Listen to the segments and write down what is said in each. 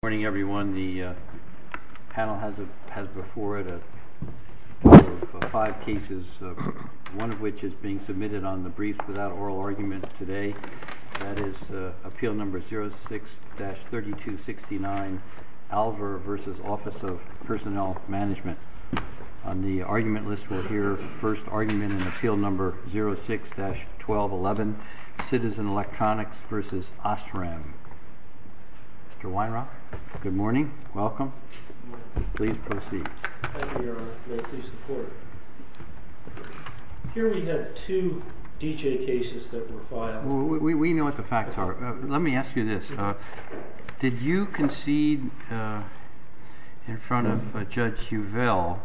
Good morning, everyone. The panel has before it five cases, one of which is being submitted on the brief without oral argument today. That is Appeal No. 06-3269, Alvor v. Office of Personnel Management. On the argument list, we'll hear first argument in Appeal No. 06-1211, Citizen Electronics v. Osram. Mr. Weinrock, good morning. Welcome. Please proceed. Thank you, Your Honor. May it please the Court. Here we have two D.J. cases that were filed. We know what the facts are. Let me ask you this. Did you concede in front of Judge Huvel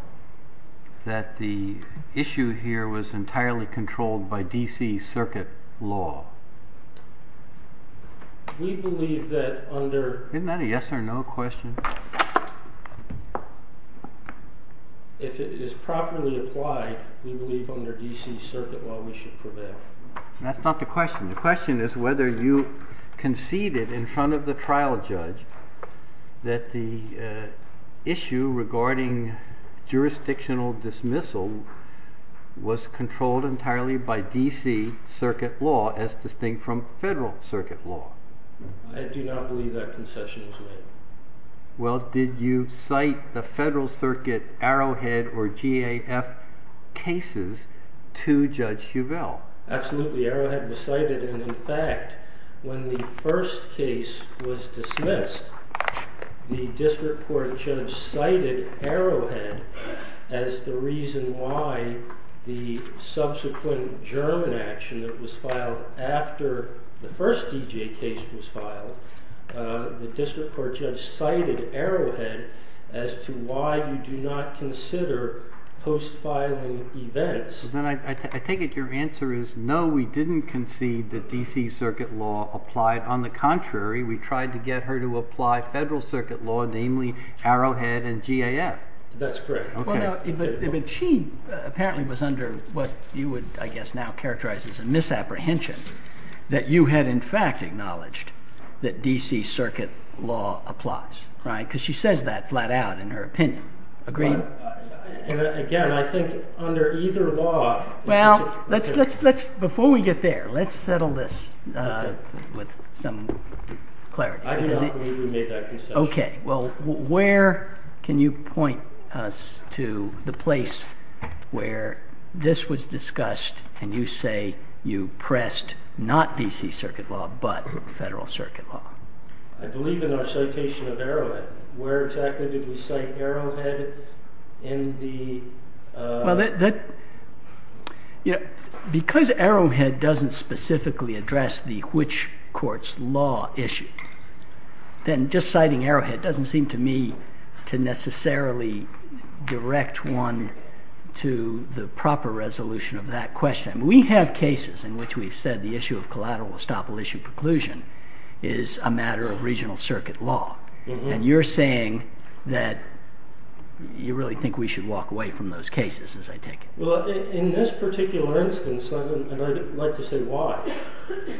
that the issue here was entirely controlled by D.C. Circuit law? Isn't that a yes or no question? If it is properly applied, we believe under D.C. Circuit law we should prevail. That's not the question. The question is whether you conceded in front of the trial judge that the issue regarding jurisdictional dismissal was controlled entirely by D.C. Circuit law, as distinct from federal circuit law. I do not believe that concession was made. Well, did you cite the federal circuit Arrowhead or GAF cases to Judge Huvel? Absolutely. Arrowhead was cited. And in fact, when the first case was dismissed, the district court judge cited Arrowhead as the reason why the subsequent German action that was filed after the first D.J. case was filed, the district court judge cited Arrowhead as to why you do not consider post-filing events. Then I take it your answer is no, we didn't concede that D.C. Circuit law applied. On the contrary, we tried to get her to apply federal circuit law, namely Arrowhead and GAF. That's correct. But she apparently was under what you would, I guess, now characterize as a misapprehension, that you had in fact acknowledged that D.C. Circuit law applies. Because she says that flat out in her opinion. Again, I think under either law... Well, before we get there, let's settle this with some clarity. I do not believe we made that concession. Okay. Well, where can you point us to the place where this was discussed and you say you pressed not D.C. Circuit law but federal circuit law? I believe in our citation of Arrowhead. Where exactly did we cite Arrowhead in the... Well, because Arrowhead doesn't specifically address the which court's law issue, then just citing Arrowhead doesn't seem to me to necessarily direct one to the proper resolution of that question. We have cases in which we've said the issue of collateral estoppel issue preclusion is a matter of regional circuit law. And you're saying that you really think we should walk away from those cases, as I take it. Well, in this particular instance, and I'd like to say why.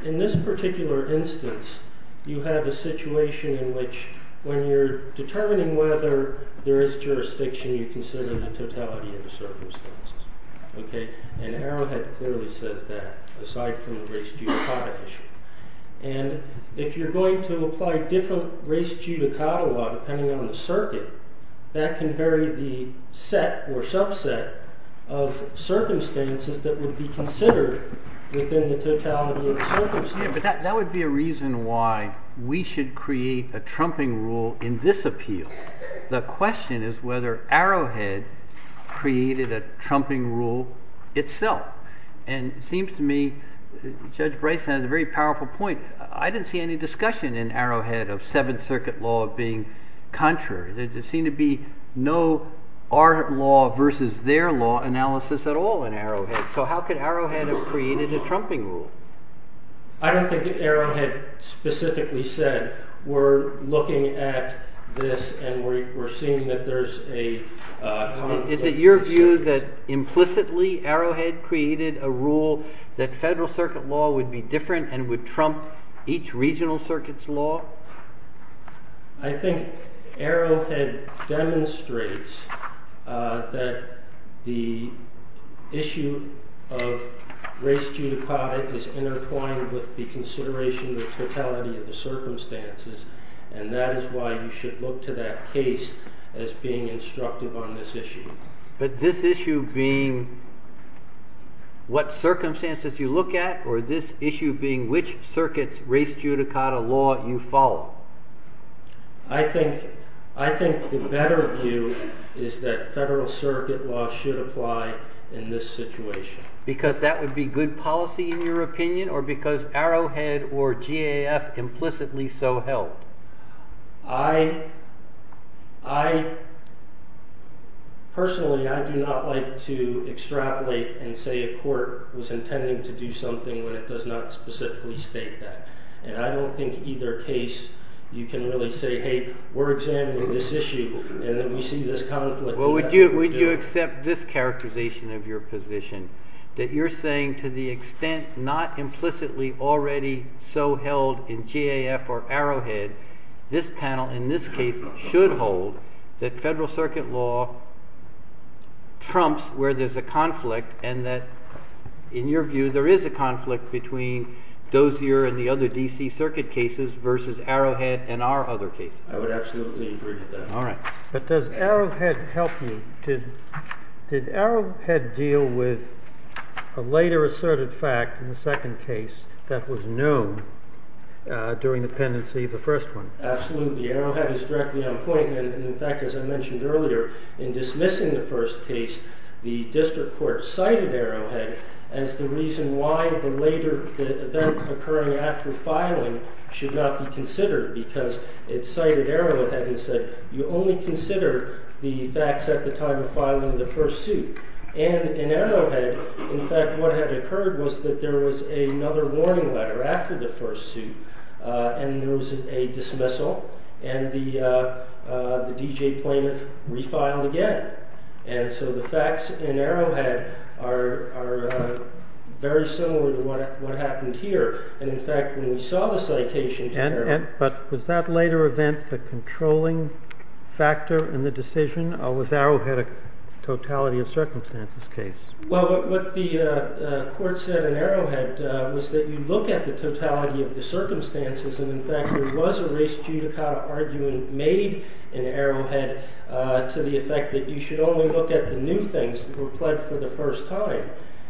In this particular instance, you have a situation in which when you're determining whether there is jurisdiction, you consider the totality of the circumstances. And Arrowhead clearly says that, aside from the race judicata issue. And if you're going to apply different race judicata law depending on the circuit, that can vary the set or subset of circumstances that would be considered within the totality of the circumstances. Yeah, but that would be a reason why we should create a trumping rule in this appeal. The question is whether Arrowhead created a trumping rule itself. And it seems to me Judge Bryson has a very powerful point. I didn't see any discussion in Arrowhead of Seventh Circuit law being contrary. There seemed to be no our law versus their law analysis at all in Arrowhead. So how could Arrowhead have created a trumping rule? I don't think Arrowhead specifically said we're looking at this and we're seeing that there's a conflict. Is it your view that implicitly Arrowhead created a rule that federal circuit law would be different and would trump each regional circuit's law? I think Arrowhead demonstrates that the issue of race judicata is intertwined with the consideration of the totality of the circumstances. And that is why you should look to that case as being instructive on this issue. But this issue being what circumstances you look at or this issue being which circuit's race judicata law you follow? I think the better view is that federal circuit law should apply in this situation. Because that would be good policy in your opinion or because Arrowhead or GAF implicitly so held? I personally I do not like to extrapolate and say a court was intending to do something when it does not specifically state that. And I don't think either case you can really say hey we're examining this issue and then we see this conflict. Would you accept this characterization of your position that you're saying to the extent not implicitly already so held in GAF or Arrowhead? This panel in this case should hold that federal circuit law trumps where there's a conflict. And that in your view there is a conflict between Dozier and the other DC circuit cases versus Arrowhead and our other cases. I would absolutely agree with that. All right. But does Arrowhead help you? Did Arrowhead deal with a later asserted fact in the second case that was known during the pendency of the first one? Absolutely. Arrowhead is directly on point. And in fact, as I mentioned earlier, in dismissing the first case, the district court cited Arrowhead as the reason why the later event occurring after filing should not be considered. Because it cited Arrowhead and said you only consider the facts at the time of filing the first suit. And in Arrowhead, in fact, what had occurred was that there was another warning letter after the first suit. And there was a dismissal. And the D.J. plaintiff refiled again. And so the facts in Arrowhead are very similar to what happened here. And in fact, when we saw the citation to Arrowhead. But was that later event the controlling factor in the decision? Or was Arrowhead a totality of circumstances case? Well, what the court said in Arrowhead was that you look at the totality of the circumstances. And in fact, there was a race judicata argument made in Arrowhead to the effect that you should only look at the new things that were pled for the first time.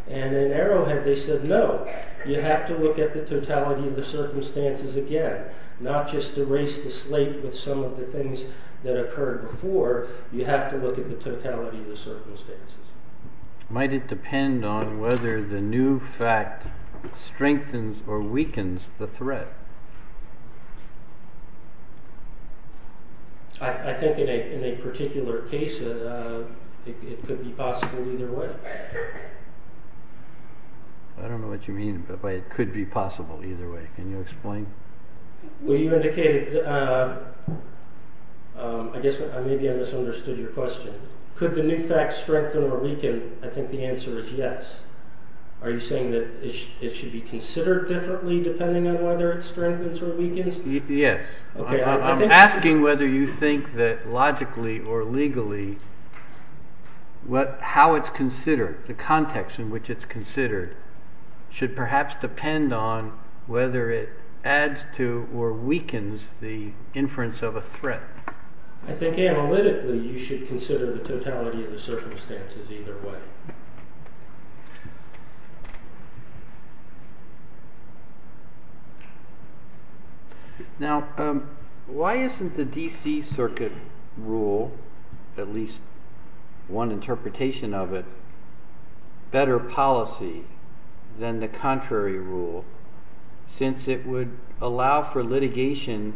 And in Arrowhead, they said, no, you have to look at the totality of the circumstances again, not just erase the slate with some of the things that occurred before. You have to look at the totality of the circumstances. Might it depend on whether the new fact strengthens or weakens the threat? I think in a particular case, it could be possible either way. I don't know what you mean by it could be possible either way. Can you explain? Well, you indicated, I guess maybe I misunderstood your question. Could the new fact strengthen or weaken? I think the answer is yes. Are you saying that it should be considered differently depending on whether it strengthens or weakens? Yes. I'm asking whether you think that logically or legally, how it's considered, the context in which it's considered, should perhaps depend on whether it adds to or weakens the inference of a threat. I think analytically, you should consider the totality of the circumstances either way. Now, why isn't the DC circuit rule, at least one interpretation of it, better policy than the contrary rule since it would allow for litigation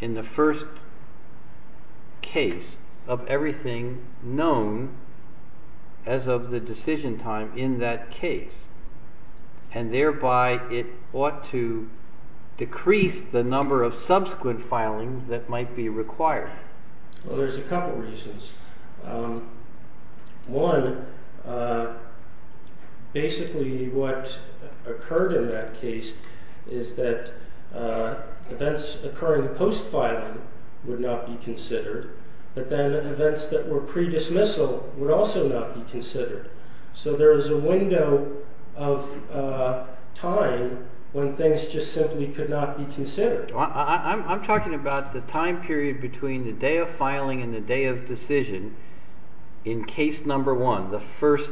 in the first case of everything known as of the decision time in that case? And thereby, it ought to decrease the number of subsequent filings that might be required. Well, there's a couple reasons. One, basically what occurred in that case is that events occurring post-filing would not be considered, but then events that were pre-dismissal would also not be considered. So there is a window of time when things just simply could not be considered. I'm talking about the time period between the day of filing and the day of decision in case number one, the first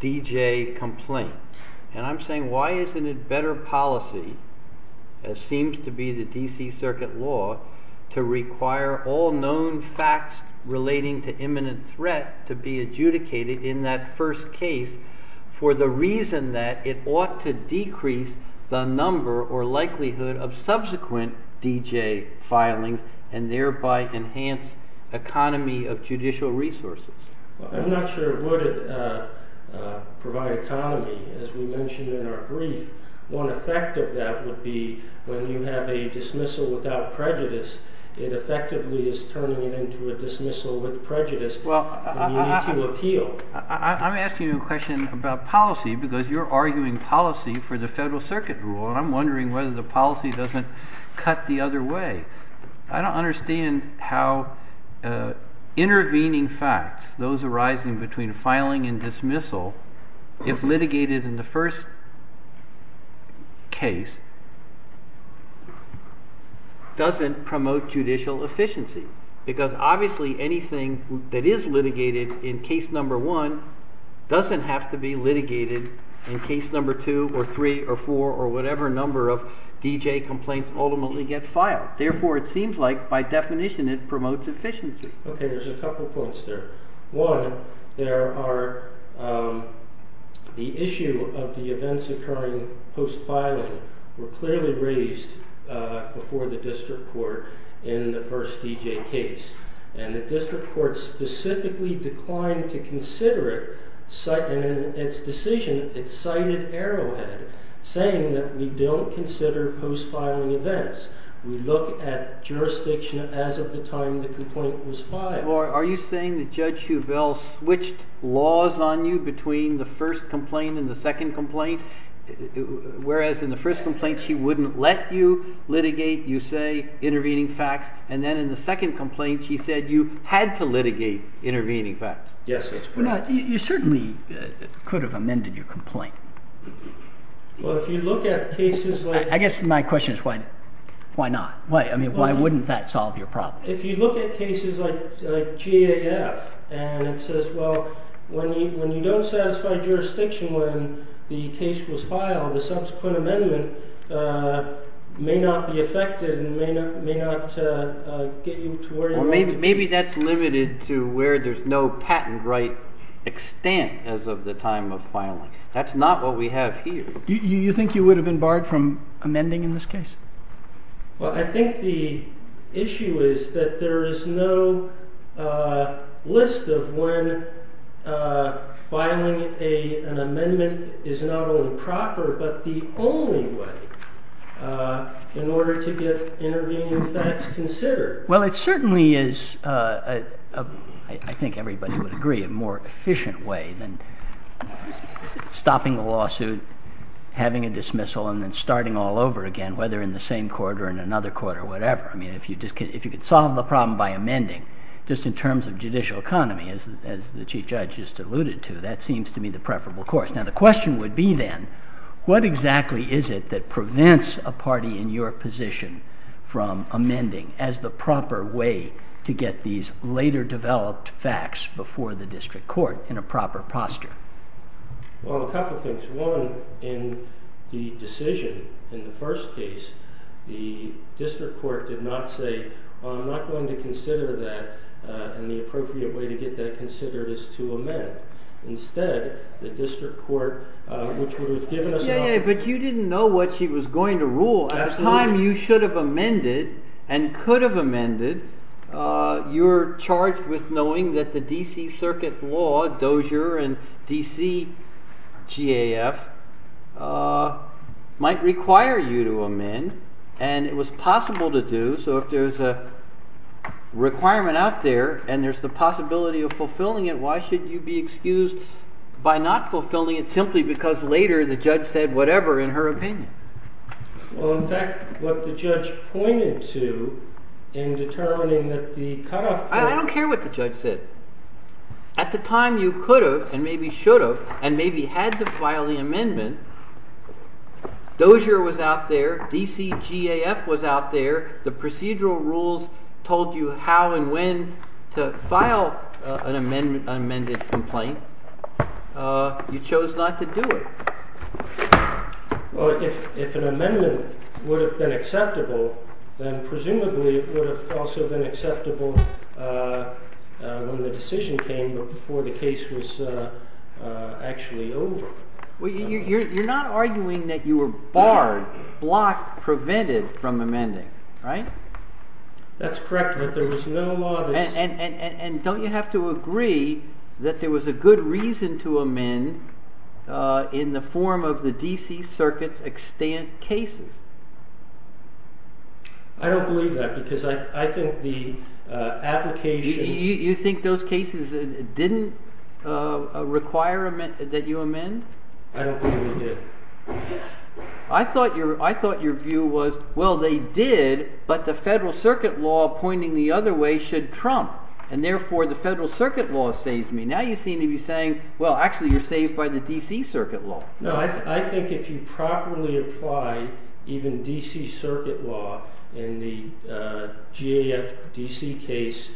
D.J. complaint. And I'm saying, why isn't it better policy, as seems to be the DC circuit law, to require all known facts relating to imminent threat to be adjudicated in that first case for the reason that it ought to decrease the number or likelihood of subsequent D.J. filings and thereby enhance economy of judicial resources? I'm not sure it would provide economy, as we mentioned in our brief. One effect of that would be when you have a dismissal without prejudice, it effectively is turning it into a dismissal with prejudice, and you need to appeal. I'm asking you a question about policy because you're arguing policy for the federal circuit rule, and I'm wondering whether the policy doesn't cut the other way. I don't understand how intervening facts, those arising between filing and dismissal, if litigated in the first case, doesn't promote judicial efficiency, because obviously anything that is litigated in case number one doesn't have to be litigated in case number two or three or four or whatever number of D.J. complaints ultimately get filed. Therefore, it seems like by definition it promotes efficiency. Okay, there's a couple points there. One, the issue of the events occurring post-filing were clearly raised before the district court in the first D.J. case, and the district court specifically declined to consider it, and in its decision it cited Arrowhead, saying that we don't consider post-filing events. We look at jurisdiction as of the time the complaint was filed. Are you saying that Judge Shovell switched laws on you between the first complaint and the second complaint, whereas in the first complaint she wouldn't let you litigate, you say, intervening facts, and then in the second complaint she said you had to litigate intervening facts? Yes, that's correct. You certainly could have amended your complaint. Well, if you look at cases like… I guess my question is why not? I mean, why wouldn't that solve your problem? If you look at cases like GAF and it says, well, when you don't satisfy jurisdiction when the case was filed, the subsequent amendment may not be affected and may not get you to where you want to be. Well, maybe that's limited to where there's no patent right extent as of the time of filing. That's not what we have here. You think you would have been barred from amending in this case? Well, I think the issue is that there is no list of when filing an amendment is not only proper but the only way in order to get intervening facts considered. Well, it certainly is, I think everybody would agree, a more efficient way than stopping a lawsuit, having a dismissal, and then starting all over again, whether in the same court or in another court or whatever. I mean, if you could solve the problem by amending, just in terms of judicial economy, as the Chief Judge just alluded to, that seems to be the preferable course. Now, the question would be then, what exactly is it that prevents a party in your position from amending as the proper way to get these later developed facts before the district court in a proper posture? Well, a couple of things. One, in the decision, in the first case, the district court did not say, well, I'm not going to consider that and the appropriate way to get that considered is to amend. Instead, the district court, which would have given us an opportunity… But you didn't know what she was going to rule. Absolutely. At the time you should have amended and could have amended, you were charged with knowing that the D.C. Circuit Law, Dozier and D.C. GAF, might require you to amend. And it was possible to do. So if there's a requirement out there and there's the possibility of fulfilling it, why should you be excused by not fulfilling it simply because later the judge said whatever in her opinion? Well, in fact, what the judge pointed to in determining that the cutoff point… I don't care what the judge said. At the time you could have and maybe should have and maybe had to file the amendment, Dozier was out there, D.C. GAF was out there, the procedural rules told you how and when to file an amended complaint. You chose not to do it. Well, if an amendment would have been acceptable, then presumably it would have also been acceptable when the decision came but before the case was actually over. Well, you're not arguing that you were barred, blocked, prevented from amending, right? That's correct, but there was no law that… And don't you have to agree that there was a good reason to amend in the form of the D.C. Circuit's extant cases? I don't believe that because I think the application… You think those cases didn't require that you amend? I don't believe they did. I thought your view was, well, they did, but the Federal Circuit law pointing the other way should trump, and therefore the Federal Circuit law saves me. Now you seem to be saying, well, actually you're saved by the D.C. Circuit law. No, I think if you properly apply even D.C. Circuit law in the GAF D.C. case,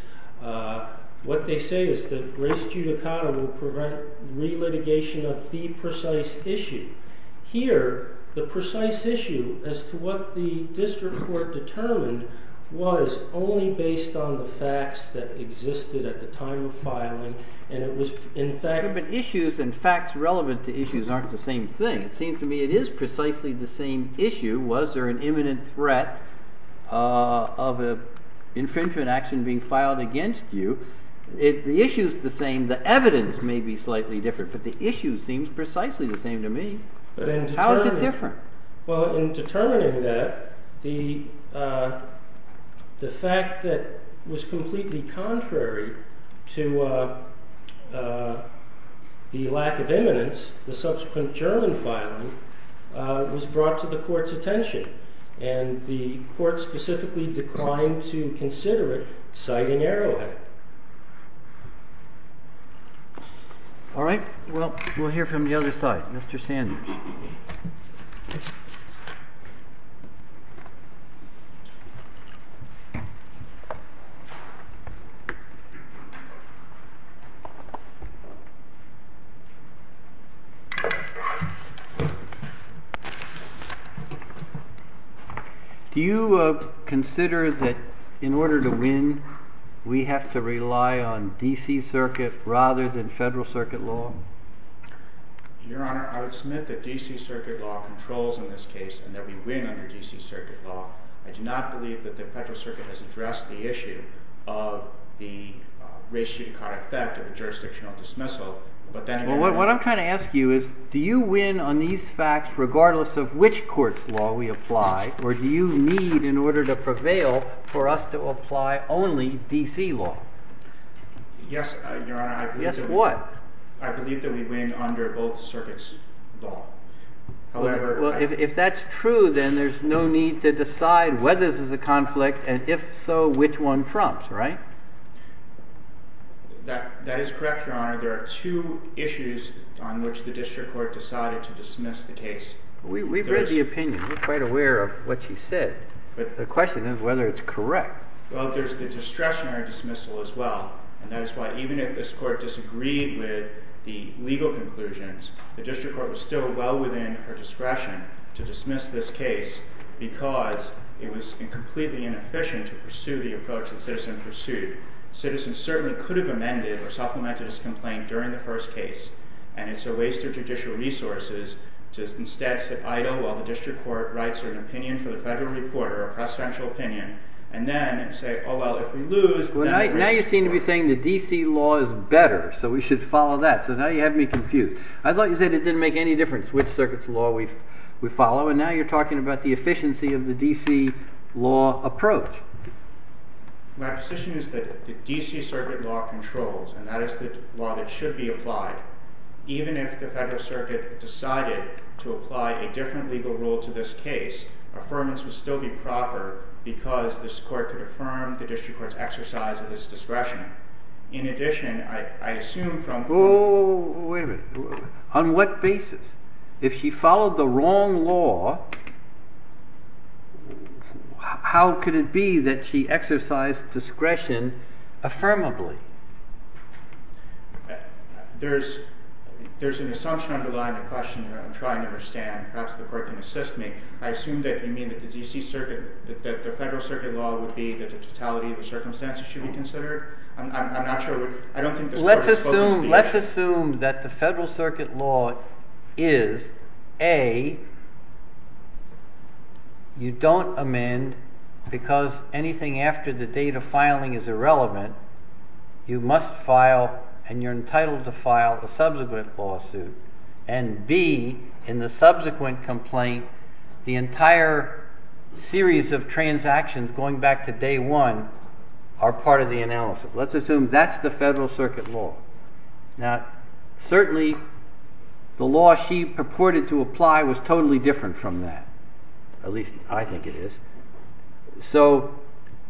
what they say is that res judicata will prevent relitigation of the precise issue. Here, the precise issue as to what the district court determined was only based on the facts that existed at the time of filing, and it was in fact… It seems to me it is precisely the same issue. Was there an imminent threat of an infringement action being filed against you? The issue is the same. The evidence may be slightly different, but the issue seems precisely the same to me. How is it different? Well, in determining that, the fact that it was completely contrary to the lack of imminence, the subsequent German filing, was brought to the Court's attention. And the Court specifically declined to consider it, citing Arrowhead. All right. Well, we'll hear from the other side. Mr. Sanders. Do you consider that in order to win, we have to rely on D.C. Circuit rather than Federal Circuit law? Your Honor, I would submit that D.C. Circuit law controls in this case and that we win under D.C. Circuit law. I do not believe that the Federal Circuit has addressed the issue of the res judicata effect of a jurisdictional dismissal. But then again… Well, what I'm trying to ask you is, do you win on these facts regardless of which court's law we apply, or do you need in order to prevail for us to apply only D.C. law? Yes, Your Honor. Yes, what? I believe that we win under both circuits' law. However… Well, if that's true, then there's no need to decide whether this is a conflict, and if so, which one trumps, right? That is correct, Your Honor. There are two issues on which the district court decided to dismiss the case. We've read the opinion. We're quite aware of what you said. But the question is whether it's correct. Well, there's the discretionary dismissal as well. And that is why even if this court disagreed with the legal conclusions, the district court was still well within her discretion to dismiss this case because it was completely inefficient to pursue the approach the citizen pursued. Citizens certainly could have amended or supplemented this complaint during the first case, and it's a waste of judicial resources to instead sit idle while the district court writes an opinion for the federal reporter, a presidential opinion, and then say, oh, well, if we lose… Now you seem to be saying the D.C. law is better, so we should follow that. So now you have me confused. I thought you said it didn't make any difference which circuit's law we follow, and now you're talking about the efficiency of the D.C. law approach. My position is that the D.C. circuit law controls, and that is the law that should be applied. Even if the federal circuit decided to apply a different legal rule to this case, affirmance would still be proper because this court could affirm the district court's exercise of its discretion. In addition, I assume from… Oh, wait a minute. On what basis? If she followed the wrong law, how could it be that she exercised discretion affirmably? There's an assumption underlying the question that I'm trying to understand. Perhaps the court can assist me. I assume that you mean that the federal circuit law would be that the totality of the circumstances should be considered. I'm not sure. I don't think this court has spoken to the issue. You must file, and you're entitled to file, a subsequent lawsuit, and B, in the subsequent complaint, the entire series of transactions going back to day one are part of the analysis. Let's assume that's the federal circuit law. Now, certainly the law she purported to apply was totally different from that, at least I think it is. So,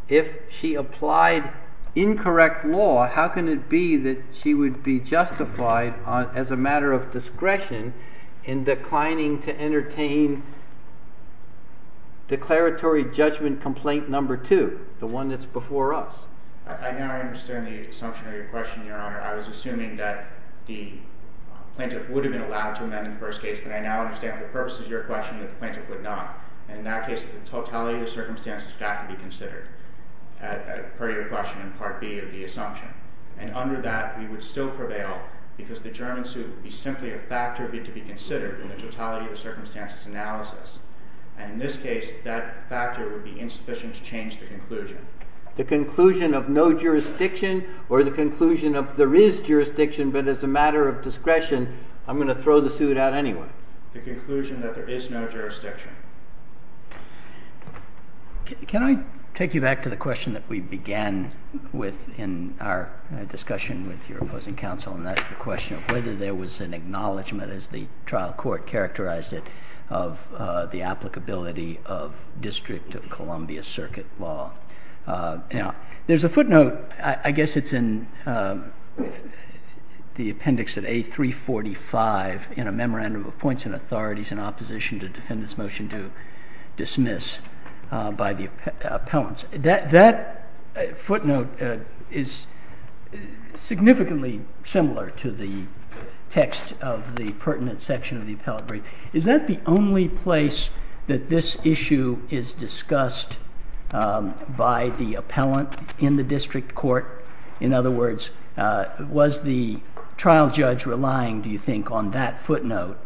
if she applied incorrect law, how can it be that she would be justified as a matter of discretion in declining to entertain declaratory judgment complaint number two, the one that's before us? I now understand the assumption of your question, Your Honor. I was assuming that the plaintiff would have been allowed to amend the first case, but I now understand for purposes of your question that the plaintiff would not. In that case, the totality of the circumstances would have to be considered, per your question in Part B of the assumption. And under that, we would still prevail, because the German suit would be simply a factor to be considered in the totality of the circumstances analysis. And in this case, that factor would be insufficient to change the conclusion. The conclusion of no jurisdiction, or the conclusion of there is jurisdiction, but as a matter of discretion, I'm going to throw the suit out anyway. The conclusion that there is no jurisdiction. Can I take you back to the question that we began with in our discussion with your opposing counsel? And that's the question of whether there was an acknowledgment, as the trial court characterized it, of the applicability of District of Columbia Circuit Law. There's a footnote. I guess it's in the appendix of A345 in a memorandum of points and authorities in opposition to defendant's motion to dismiss by the appellants. That footnote is significantly similar to the text of the pertinent section of the appellate brief. Is that the only place that this issue is discussed by the appellant in the district court? In other words, was the trial judge relying, do you think, on that footnote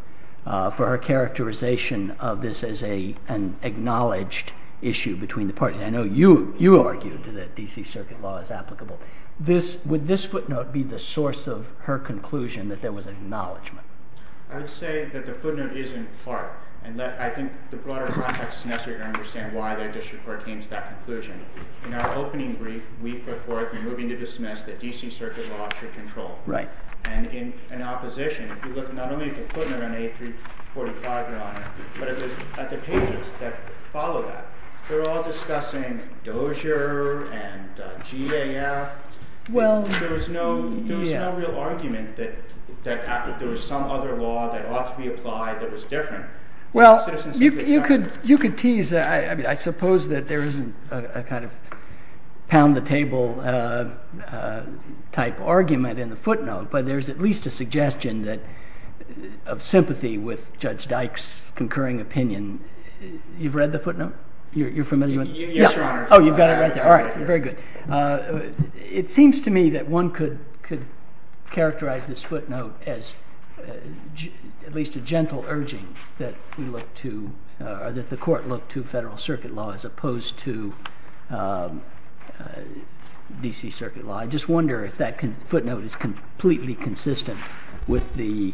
for her characterization of this as an acknowledged issue between the parties? I know you argued that D.C. Circuit Law is applicable. Would this footnote be the source of her conclusion that there was acknowledgment? I would say that the footnote is in part, and I think the broader context is necessary to understand why the district court came to that conclusion. In our opening brief, a week before, if you're moving to dismiss, that D.C. Circuit Law should control. And in opposition, if you look not only at the footnote on A345, Your Honor, but at the pages that follow that, they're all discussing Dozier and GAF. There was no real argument that there was some other law that ought to be applied that was different. Well, you could tease. I suppose that there isn't a kind of pound the table type argument in the footnote. But there's at least a suggestion of sympathy with Judge Dyke's concurring opinion. You've read the footnote? You're familiar with it? Yes, Your Honor. Oh, you've got it right there. All right, very good. It seems to me that one could characterize this footnote as at least a gentle urging that the court look to federal circuit law as opposed to D.C. Circuit Law. I just wonder if that footnote is completely consistent with the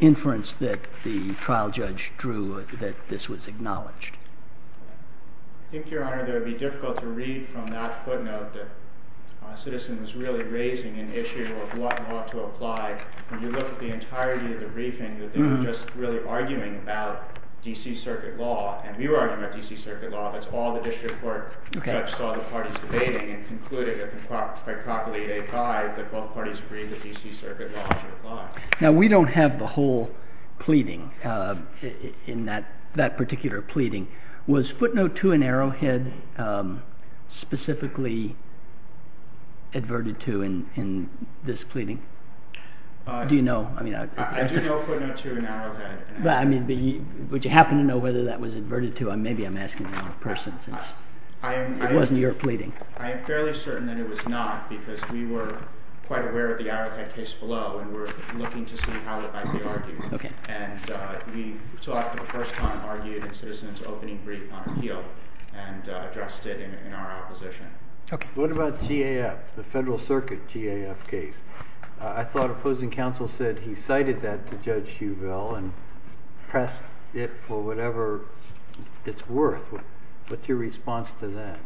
inference that the trial judge drew that this was acknowledged. I think, Your Honor, that it would be difficult to read from that footnote that a citizen was really raising an issue of what law to apply. When you look at the entirety of the briefing, that they were just really arguing about D.C. Circuit Law. And we were arguing about D.C. Circuit Law. That's all the district court judge saw the parties debating and concluded by Procol 8A5 that both parties agreed that D.C. Circuit Law should apply. Now, we don't have the whole pleading in that particular pleading. Was footnote 2 in Arrowhead specifically adverted to in this pleading? Do you know? I do know footnote 2 in Arrowhead. Would you happen to know whether that was adverted to? Maybe I'm asking the wrong person since it wasn't your pleading. I am fairly certain that it was not because we were quite aware of the Arrowhead case below and were looking to see how it might be argued. And we saw it for the first time argued in Citizens Opening Brief on appeal and addressed it in our opposition. What about GAF, the Federal Circuit GAF case? I thought opposing counsel said he cited that to Judge Shueville and pressed it for whatever it's worth. What's your response to that?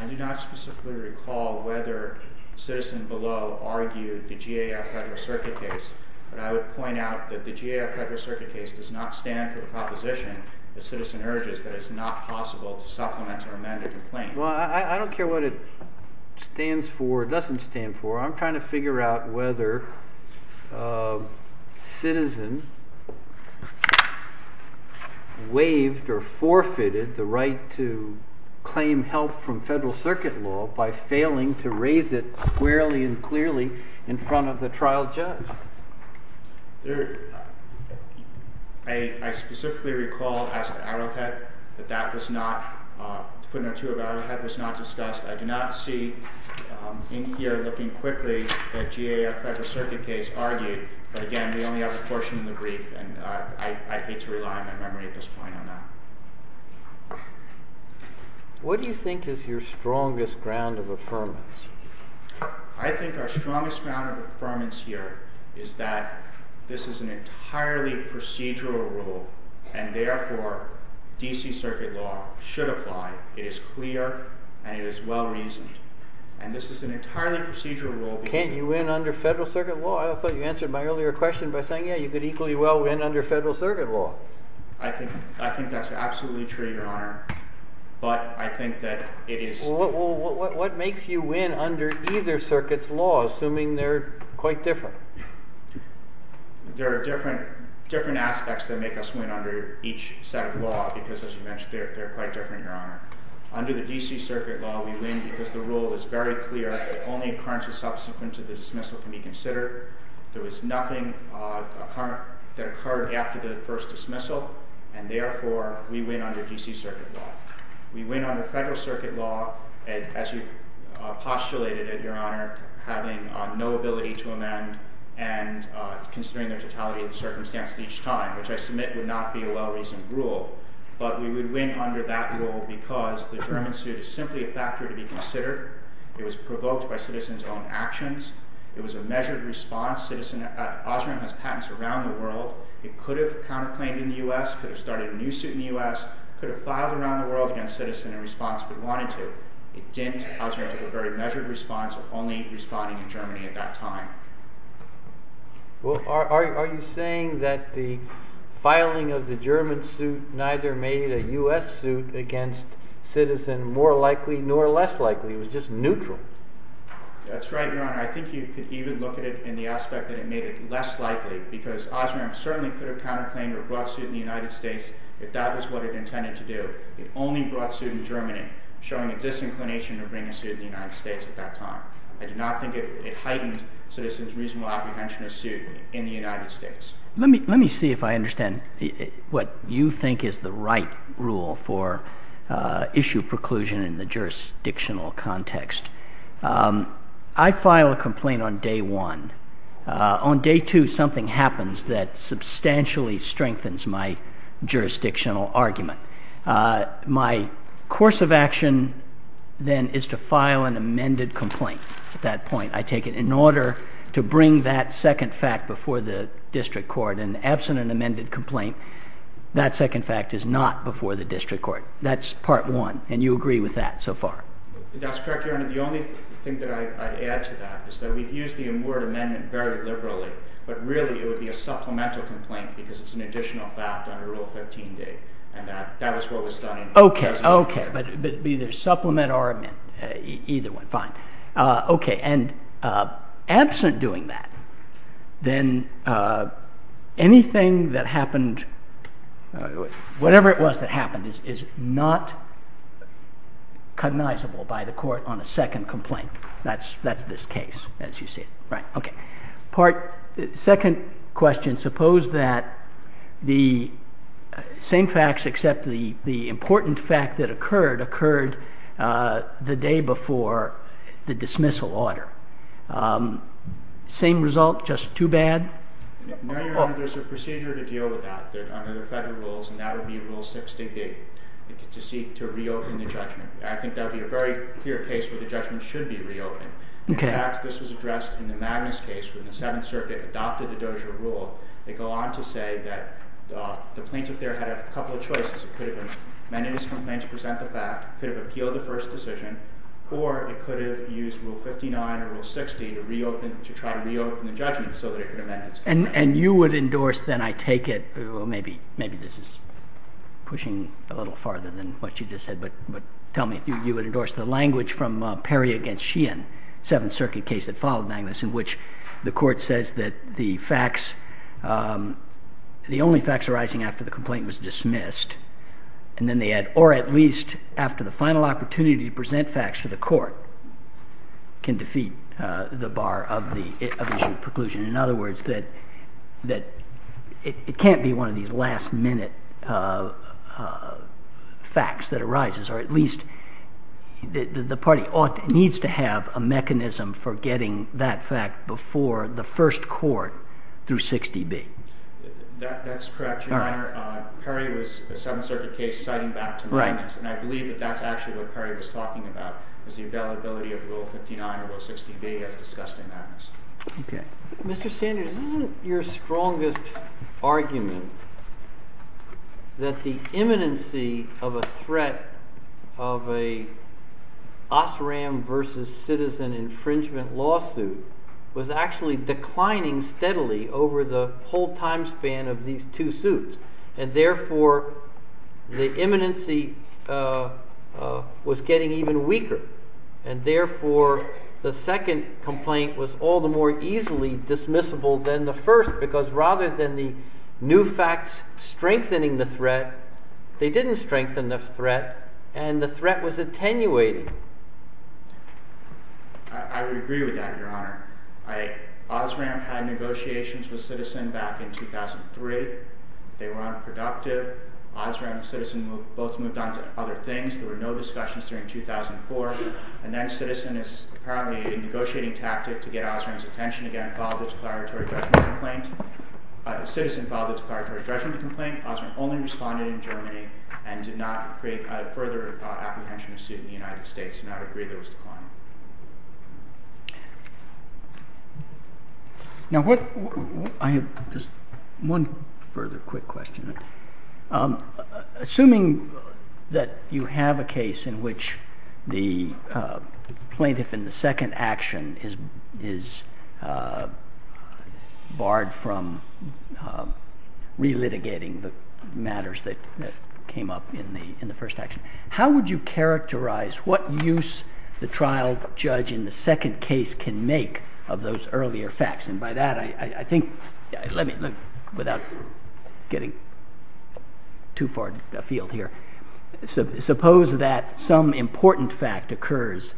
I do not specifically recall whether Citizen below argued the GAF Federal Circuit case. But I would point out that the GAF Federal Circuit case does not stand for the proposition that Citizen urges that it's not possible to supplement or amend a complaint. Well, I don't care what it stands for or doesn't stand for. I'm trying to figure out whether Citizen waived or forfeited the right to claim help from Federal Circuit law by failing to raise it squarely and clearly in front of the trial judge. I specifically recall as to Arrowhead that that was not, footnote 2 of Arrowhead was not discussed. I do not see in here looking quickly that GAF Federal Circuit case argued. But again, we only have a portion of the brief and I hate to rely on my memory at this point on that. What do you think is your strongest ground of affirmance? I think our strongest ground of affirmance here is that this is an entirely procedural rule and therefore DC Circuit law should apply. It is clear and it is well-reasoned. And this is an entirely procedural rule. Can't you win under Federal Circuit law? I thought you answered my earlier question by saying, yeah, you could equally well win under Federal Circuit law. I think that's absolutely true, Your Honor. What makes you win under either circuit's law, assuming they're quite different? There are different aspects that make us win under each set of law because, as you mentioned, they're quite different, Your Honor. Under the DC Circuit law, we win because the rule is very clear that only occurrences subsequent to the dismissal can be considered. There was nothing that occurred after the first dismissal. And therefore, we win under DC Circuit law. We win under Federal Circuit law as you postulated it, Your Honor, having no ability to amend and considering the totality of the circumstances each time, which I submit would not be a well-reasoned rule. But we would win under that rule because the German suit is simply a factor to be considered. It was provoked by citizens' own actions. It was a measured response. Osram has patents around the world. It could have counterclaimed in the U.S., could have started a new suit in the U.S., could have filed around the world against citizens in response if it wanted to. It didn't. Osram took a very measured response, only responding to Germany at that time. Well, are you saying that the filing of the German suit neither made a U.S. suit against citizens more likely nor less likely? It was just neutral. That's right, Your Honor. I think you could even look at it in the aspect that it made it less likely because Osram certainly could have counterclaimed or brought a suit in the United States if that was what it intended to do. It only brought a suit in Germany, showing a disinclination to bring a suit in the United States at that time. I do not think it heightened citizens' reasonable apprehension of suit in the United States. Let me see if I understand what you think is the right rule for issue preclusion in the jurisdictional context. I file a complaint on day one. On day two, something happens that substantially strengthens my jurisdictional argument. My course of action then is to file an amended complaint at that point. I take it in order to bring that second fact before the district court. And absent an amended complaint, that second fact is not before the district court. That's part one, and you agree with that so far? That's correct, Your Honor. The only thing that I'd add to that is that we've used the word amendment very liberally, but really it would be a supplemental complaint because it's an additional fact under Rule 15d. And that was what was done in— Okay, okay. But either supplement or amend. Either one. Fine. Okay, and absent doing that, then anything that happened, whatever it was that happened, is not cognizable by the court on a second complaint. That's this case, as you see it. Right, okay. Second question, suppose that the same facts except the important fact that occurred occurred the day before the dismissal order. Same result, just too bad? No, Your Honor, there's a procedure to deal with that under the federal rules, and that would be Rule 16d, to reopen the judgment. I think that would be a very clear case where the judgment should be reopened. Okay. In fact, this was addressed in the Magnus case when the Seventh Circuit adopted the Dozier rule. They go on to say that the plaintiff there had a couple of choices. It could have amended his complaint to present the fact, could have appealed the first decision, or it could have used Rule 59 or Rule 60 to try to reopen the judgment so that it could amend its claim. And you would endorse, then, I take it—well, maybe this is pushing a little farther than what you just said, but tell me if you would endorse the language from Perry against Sheehan. Seventh Circuit case that followed Magnus in which the court says that the facts, the only facts arising after the complaint was dismissed, and then they add, or at least after the final opportunity to present facts to the court, can defeat the bar of the issue of preclusion. In other words, it can't be one of these last-minute facts that arises, or at least the party needs to have a mechanism for getting that fact before the first court through 60B. That's correct, Your Honor. Perry was a Seventh Circuit case citing back to Magnus, and I believe that that's actually what Perry was talking about, is the availability of Rule 59 or Rule 60B as discussed in Magnus. Okay. Mr. Sanders, isn't your strongest argument that the imminency of a threat of an Osram versus citizen infringement lawsuit was actually declining steadily over the whole time span of these two suits, and therefore the imminency was getting even weaker, and therefore the second complaint was all the more easily dismissible than the first, because rather than the new facts strengthening the threat, they didn't strengthen the threat, and the threat was attenuating? I would agree with that, Your Honor. Osram had negotiations with citizen back in 2003. They were unproductive. Osram and citizen both moved on to other things. There were no discussions during 2004. And then citizen, apparently, in a negotiating tactic to get Osram's attention again, filed a declaratory judgment complaint. Citizen filed a declaratory judgment complaint. Osram only responded in Germany and did not create a further apprehension suit in the United States. Do not agree that it was declining. Now, I have just one further quick question. Assuming that you have a case in which the plaintiff in the second action is barred from relitigating the matters that came up in the first action, how would you characterize what use the trial judge in the second case can make of those earlier facts? And by that, I think, let me look without getting too far afield here. Suppose that some important fact occurs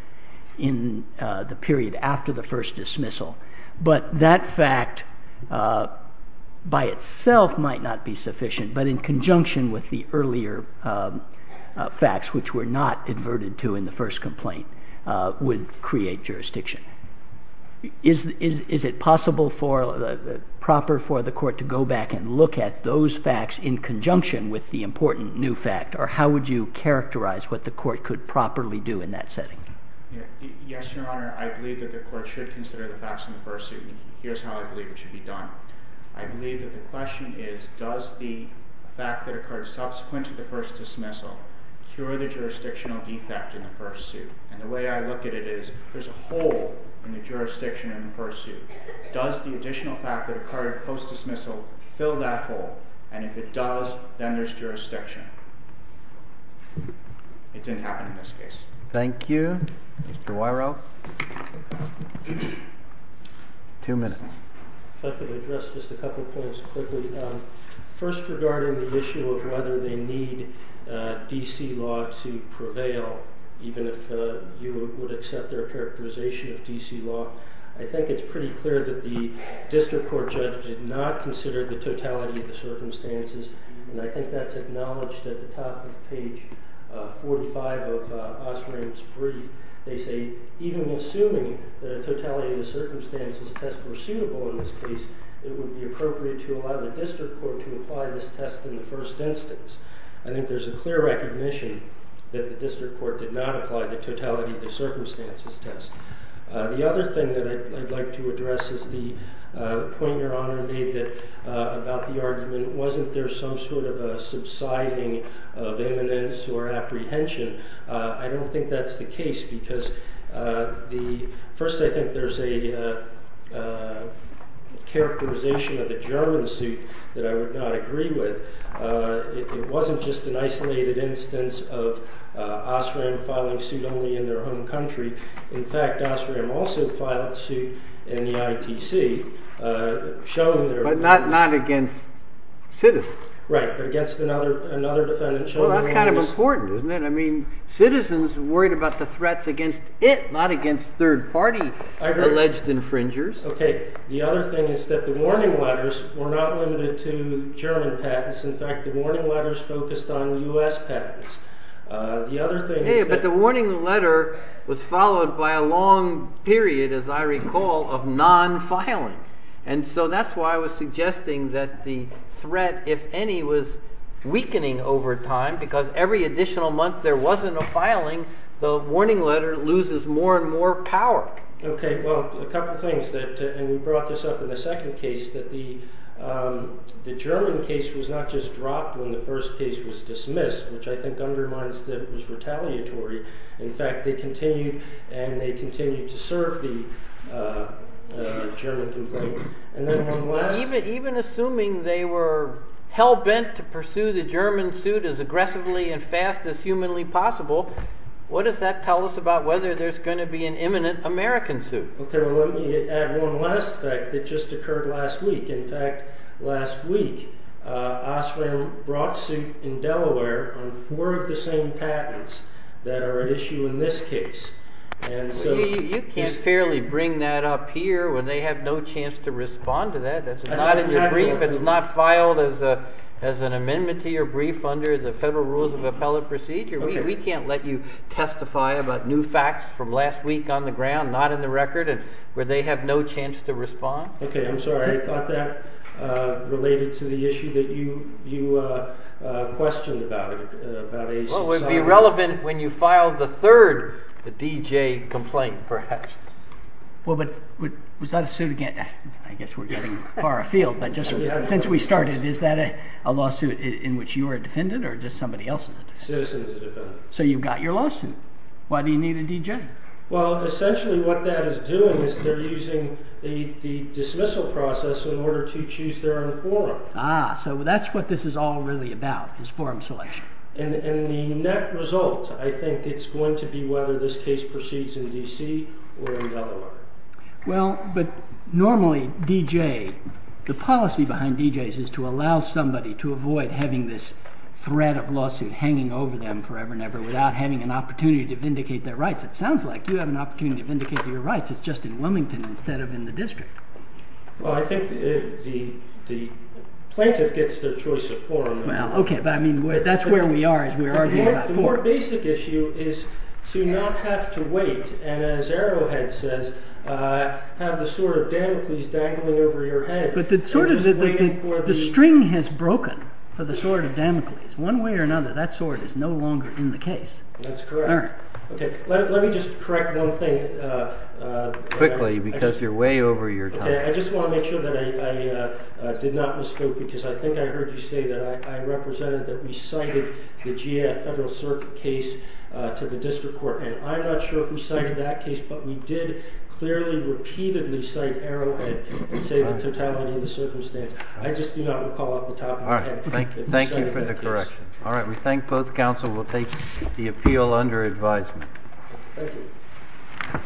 in the period after the first dismissal, but that fact by itself might not be sufficient, but in conjunction with the earlier facts, which were not inverted to in the first complaint, would create jurisdiction. Is it possible for the court to go back and look at those facts in conjunction with the important new fact? Or how would you characterize what the court could properly do in that setting? Yes, Your Honor. I believe that the court should consider the facts in the first suit. And here's how I believe it should be done. I believe that the question is, does the fact that occurred subsequent to the first dismissal cure the jurisdictional defect in the first suit? And the way I look at it is, there's a hole in the jurisdiction in the first suit. Does the additional fact that occurred post-dismissal fill that hole? And if it does, then there's jurisdiction. It didn't happen in this case. Thank you. Mr. Wiro? Two minutes. If I could address just a couple points quickly. First, regarding the issue of whether they need D.C. law to prevail, even if you would accept their characterization of D.C. law, I think it's pretty clear that the district court judge did not consider the totality of the circumstances. And I think that's acknowledged at the top of page 45 of Osram's brief. They say, even assuming the totality of the circumstances test were suitable in this case, it would be appropriate to allow the district court to apply this test in the first instance. I think there's a clear recognition that the district court did not apply the totality of the circumstances test. The other thing that I'd like to address is the point Your Honor made about the argument, wasn't there some sort of subsiding of imminence or apprehension? I don't think that's the case, because first I think there's a characterization of a German suit that I would not agree with. It wasn't just an isolated instance of Osram filing suit only in their own country. In fact, Osram also filed suit in the ITC. But not against citizens. Right, but against another defendant. Well, that's kind of important, isn't it? Citizens worried about the threats against it, not against third party alleged infringers. The other thing is that the warning letters were not limited to German patents. In fact, the warning letters focused on US patents. But the warning letter was followed by a long period, as I recall, of non-filing. And so that's why I was suggesting that the threat, if any, was weakening over time, because every additional month there wasn't a filing, the warning letter loses more and more power. Okay, well, a couple things, and we brought this up in the second case, that the German case was not just dropped when the first case was dismissed, which I think undermines that it was retaliatory. In fact, they continued, and they continued to serve the German complaint. Even assuming they were hell-bent to pursue the German suit as aggressively and fast as humanly possible, what does that tell us about whether there's going to be an imminent American suit? Okay, well, let me add one last fact that just occurred last week. In fact, last week, Oswell brought suit in Delaware on four of the same patents that are at issue in this case. You can't fairly bring that up here when they have no chance to respond to that. That's not in your brief. It's not filed as an amendment to your brief under the Federal Rules of Appellate Procedure. We can't let you testify about new facts from last week on the ground, not in the record, where they have no chance to respond. Okay, I'm sorry. I thought that related to the issue that you questioned about it. Well, it would be relevant when you file the third, the D.J. complaint, perhaps. Well, but was that a suit again? I guess we're getting far afield, but just since we started, is that a lawsuit in which you are a defendant or just somebody else is a defendant? A citizen is a defendant. So you've got your lawsuit. Why do you need a D.J.? Well, essentially what that is doing is they're using the dismissal process in order to choose their own forum. Ah, so that's what this is all really about, is forum selection. And the net result, I think, it's going to be whether this case proceeds in D.C. or in Delaware. Well, but normally, D.J., the policy behind D.J.s is to allow somebody to avoid having this thread of lawsuit hanging over them forever and ever without having an opportunity to vindicate their rights. It sounds like you have an opportunity to vindicate your rights. It's just in Wilmington instead of in the district. Well, I think the plaintiff gets their choice of forum. Well, okay, but I mean, that's where we are, is we're arguing about forum. The more basic issue is to not have to wait and, as Arrowhead says, have the sword of Damocles dangling over your head. But the string has broken for the sword of Damocles. One way or another, that sword is no longer in the case. That's correct. Senator? Okay, let me just correct one thing. Quickly, because you're way over your time. Okay, I just want to make sure that I did not misspoke, because I think I heard you say that I represented that we cited the GAF federal circuit case to the district court. And I'm not sure if we cited that case, but we did clearly repeatedly cite Arrowhead and say the totality of the circumstance. I just do not recall off the top of my head that we cited that case. All right, thank you for the correction. All right, we thank both counsel. We'll take the appeal under advisement. Thank you.